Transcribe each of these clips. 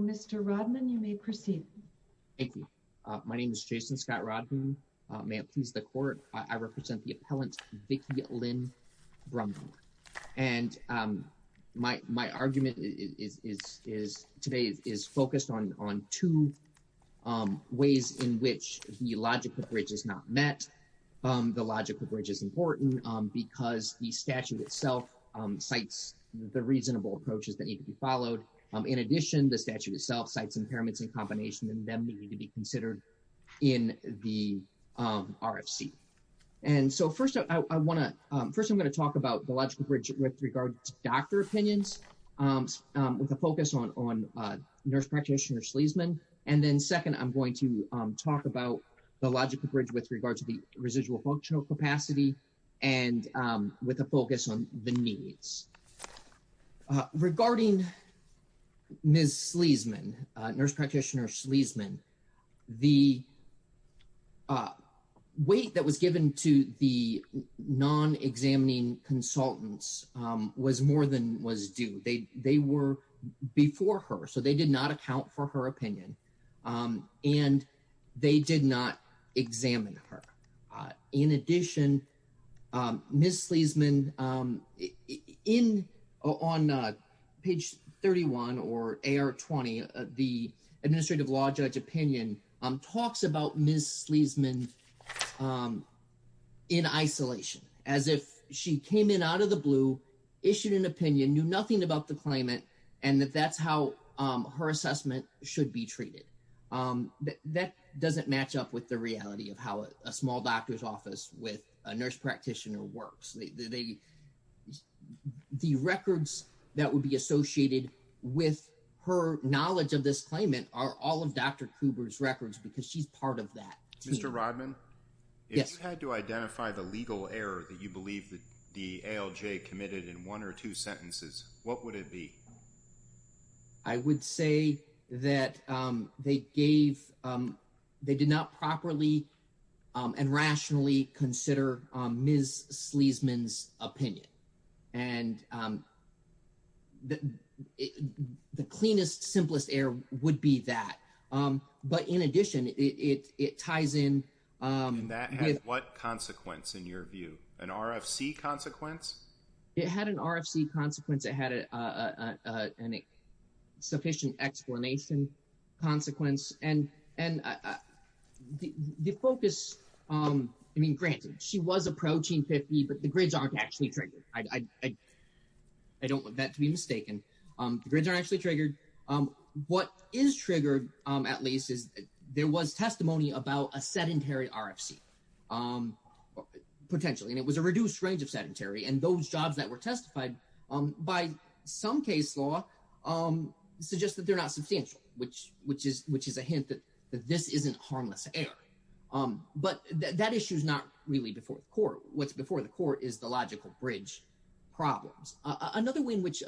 Mr. Rodman, you may proceed. My name is Jason Scott Rodman. May it please the court, I represent the appellant, Vicki Lynn Brumbaugh. And my argument today is focused on two ways in which the logical bridge is not met. The logical bridge is important because the statute itself cites the reasonable approaches that need to be followed. In addition, the statute itself cites impairments in combination and them need to be considered in the RFC. And so first I want to, first I'm going to talk about the logical bridge with regard to doctor opinions with a focus on nurse practitioner Sleasman. And then second, I'm going to talk about the logical bridge with regard to the residual functional capacity and with a focus on the needs. Regarding Ms. Sleasman, nurse practitioner Sleasman, the weight that was given to the non-examining consultants was more than was due. They were before her, so they did not account for her opinion and they did not examine her. In addition, Ms. Sleasman, on page 31 or AR20, the administrative law judge opinion talks about Ms. Sleasman in isolation, as if she came in out of the blue, issued an opinion, knew nothing about the claimant, and that that's how her assessment should be treated. That doesn't match up with the reality of how a small doctor's office with a nurse practitioner works. The records that would be associated with her knowledge of this claimant are all of Dr. Kuber's records because she's part of that team. Mr. Rodman? Yes. If you had to identify the legal error that you believe that the ALJ committed in one or two sentences, what would it be? I would say that they gave, they did not properly and rationally consider Ms. Sleasman's opinion and the cleanest, simplest error would be that. But in addition, it ties in with... And that has what consequence in your view? An RFC consequence? It had an RFC consequence. It had a sufficient explanation consequence. And the focus, I mean, granted, she was approaching 50, but the grids aren't actually triggered. I don't want that to be mistaken. The grids aren't actually triggered. What is triggered, at least, is there was testimony about a sedentary RFC, potentially, and it was a reduced range of sedentary. And those jobs that were testified by some case law suggest that they're not substantial, which is a hint that this isn't harmless error. But that issue's not really before the court. What's before the court is the logical bridge problems. Another way in which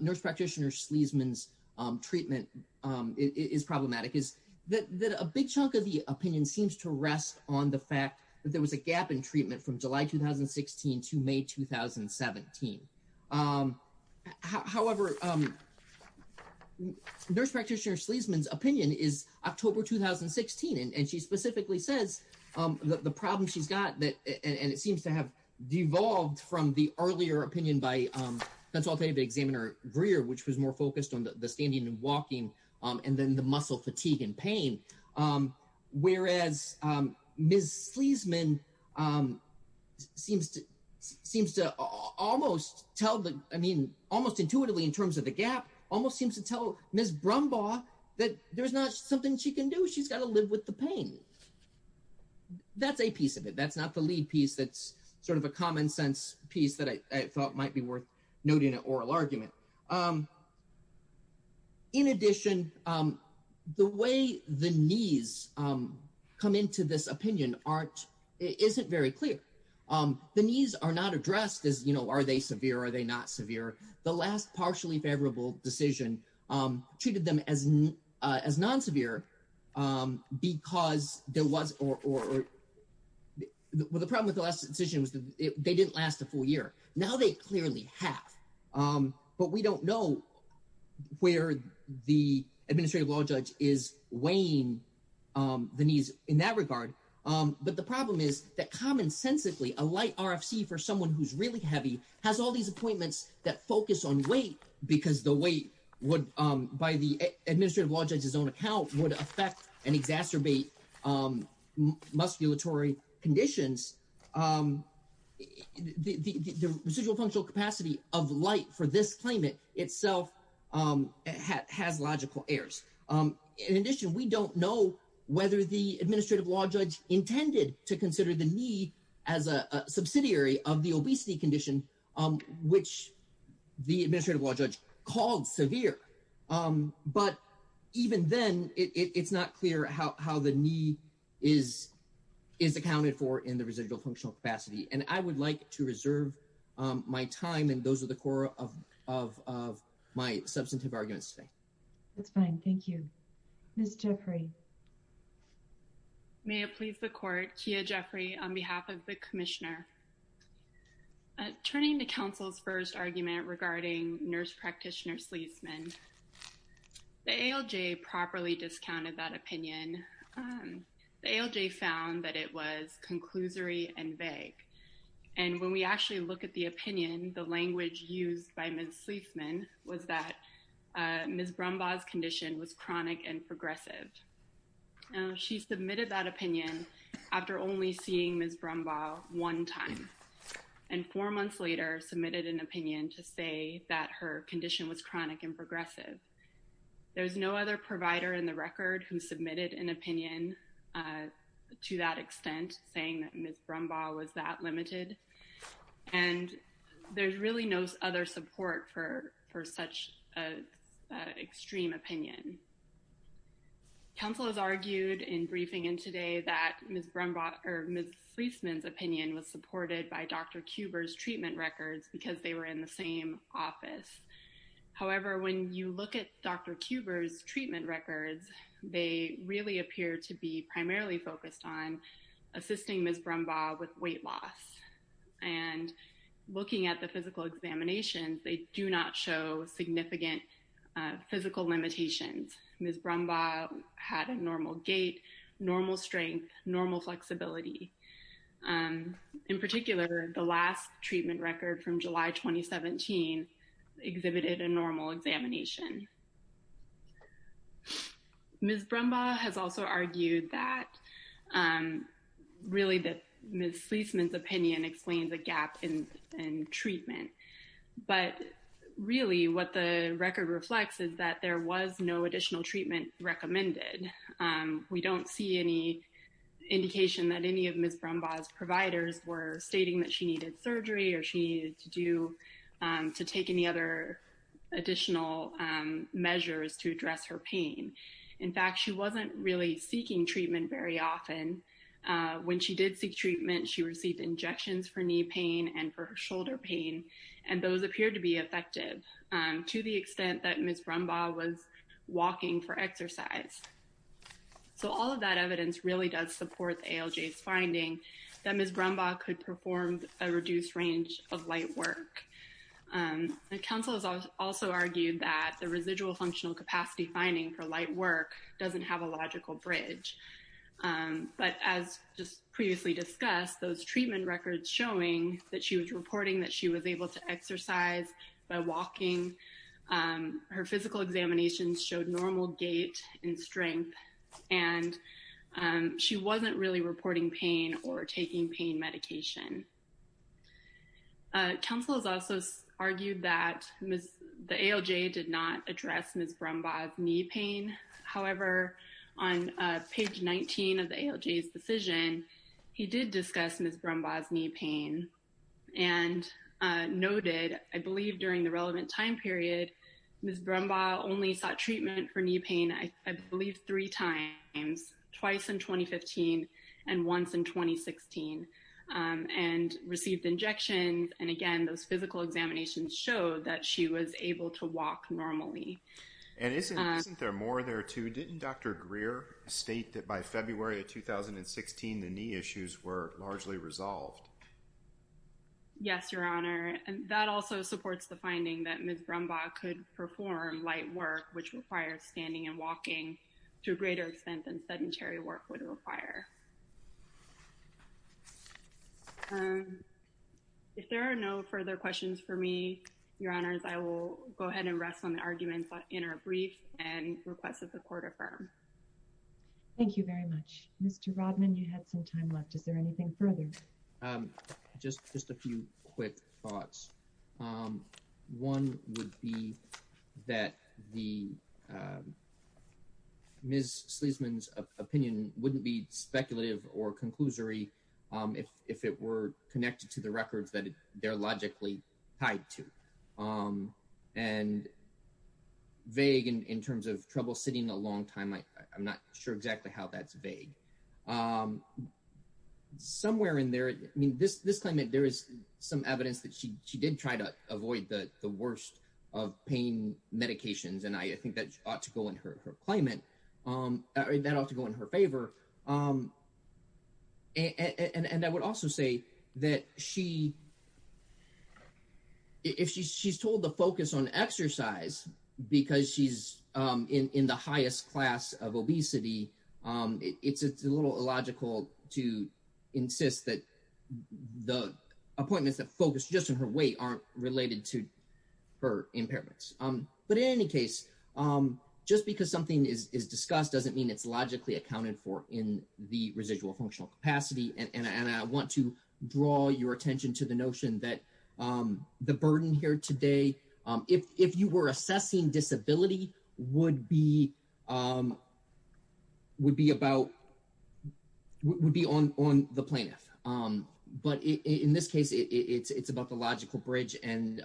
Nurse Practitioner Sleasman's treatment is problematic is that a big chunk of the opinion seems to rest on the fact that there was a gap in treatment from July 2016 to May 2017. However, Nurse Practitioner Sleasman's opinion is October 2016, and she specifically says that the problem she's got, and it seems to have devolved from the earlier opinion by Consultative Examiner Greer, which was more focused on the standing and walking, and then the muscle fatigue and pain, whereas Ms. Sleasman seems to almost tell, I mean, almost intuitively in terms of the gap, almost seems to tell Ms. Brumbaugh that there's not something she can do. She's got to live with the pain. That's a piece of it. That's not the lead piece that's sort of a common sense piece that I thought might be worth noting an oral argument. But in addition, the way the needs come into this opinion aren't, isn't very clear. The needs are not addressed as, you know, are they severe, are they not severe? The last partially favorable decision treated them as non-severe because there was, or the problem with the last decision was that they didn't last a full year. Now they clearly have, but we don't know where the Administrative Law Judge is weighing the needs in that regard. But the problem is that commonsensically a light RFC for someone who's really heavy has all these appointments that focus on weight because the weight would, by the Administrative Law Judge's own account, would affect and exacerbate musculatory conditions. The residual functional capacity of light for this claimant itself has logical errors. In addition, we don't know whether the Administrative Law Judge intended to consider the knee as a subsidiary of the obesity condition, which the Administrative Law Judge called severe. But even then, it's not clear how the knee is accounted for in the residual functional capacity. And I would like to reserve my time and those are the core of my substantive arguments today. That's fine. Thank you. Ms. Jeffrey. May it please the Court, Kia Jeffrey on behalf of the Commissioner. Turning to counsel's first argument regarding nurse practitioner Sleafman, the ALJ properly discounted that opinion. The ALJ found that it was conclusory and vague. And when we actually look at the opinion, the language used by Ms. Sleafman was that Ms. Brumbaugh's condition was chronic and progressive. Now, she submitted that opinion after only seeing Ms. Brumbaugh one time and four months later submitted an opinion to say that her condition was chronic and progressive. There's no other provider in the record who submitted an opinion to that extent saying that Ms. Brumbaugh was that limited. And there's really no other support for such an extreme opinion. Counsel has argued in briefing in today that Ms. Brumbaugh or Ms. Sleafman's opinion was supported by Dr. Kuber's treatment records because they were in the same office. However, when you look at Dr. Kuber's treatment records, they really appear to be primarily focused on assisting Ms. Brumbaugh with weight loss and looking at the physical examinations, they do not show significant physical limitations. Ms. Brumbaugh had a normal gait, normal strength, normal flexibility. In particular, the last treatment record from July 2017 exhibited a normal examination. Ms. Brumbaugh has also argued that really that Ms. Sleafman's opinion explains a gap in treatment. But really what the record reflects is that there was no additional treatment recommended. We don't see any indication that any of Ms. Brumbaugh's providers were stating that she needed surgery or she needed to take any other additional measures to address her pain. In fact, she wasn't really seeking treatment very often. When she did seek treatment, she received injections for knee pain and for shoulder pain, and those appeared to be effective to the extent that Ms. Brumbaugh was walking for exercise. So all of that evidence really does support ALJ's finding that Ms. Brumbaugh could perform a reduced range of light work. The council has also argued that the residual functional capacity finding for light work doesn't have a logical bridge. But as just previously discussed, those treatment records showing that she was reporting that she was able to exercise by walking, her physical examinations showed normal gait and strength, and she wasn't really reporting pain or taking pain medication. Council has also argued that the ALJ did not address Ms. Brumbaugh's knee pain. However, on page 19 of the ALJ's decision, he did discuss Ms. Brumbaugh's knee pain. And noted, I believe, during the relevant time period, Ms. Brumbaugh only sought treatment for knee pain, I believe, three times, twice in 2015 and once in 2016, and received injections. And again, those physical examinations showed that she was able to walk normally. And isn't there more there too? Didn't Dr. Greer state that by February of 2016, the knee issues were largely resolved? Yes, Your Honor. And that also supports the finding that Ms. Brumbaugh could perform light work, which requires standing and walking to a greater extent than sedentary work would require. If there are no further questions for me, Your Honors, I will go ahead and rest on the arguments in our brief and request that the Court affirm. Thank you very much. Mr. Rodman, you had some time left. Is there anything further? I have just a few quick thoughts. One would be that Ms. Sleasman's opinion wouldn't be speculative or conclusory if it were connected to the records that they're logically tied to. And vague in terms of troubleshooting a long time, I'm not sure exactly how that's vague. Somewhere in there, I mean, this claimant, there is some evidence that she did try to avoid the worst of pain medications. And I think that ought to go in her claimant, that ought to go in her favor. And I would also say that she, if she's told to focus on exercise because she's in the highest class of obesity, it's a little illogical to insist that the appointments that focus just on her weight aren't related to her impairments. But in any case, just because something is discussed doesn't mean it's logically accounted for in the residual functional capacity. And I want to draw your attention to the notion that the burden here today, if you were assessing disability, would be on the plaintiff. But in this case, it's about the logical bridge. And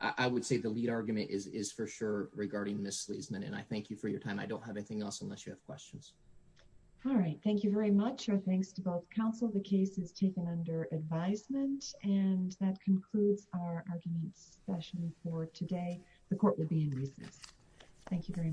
I would say the lead argument is for sure regarding Ms. Sleasman. And I thank you for your time. I don't have anything else unless you have questions. All right. Thank you very much. Our thanks to both counsel. The case is taken under advisement. And that concludes our argument session for today. The court will be in recess. Thank you very much.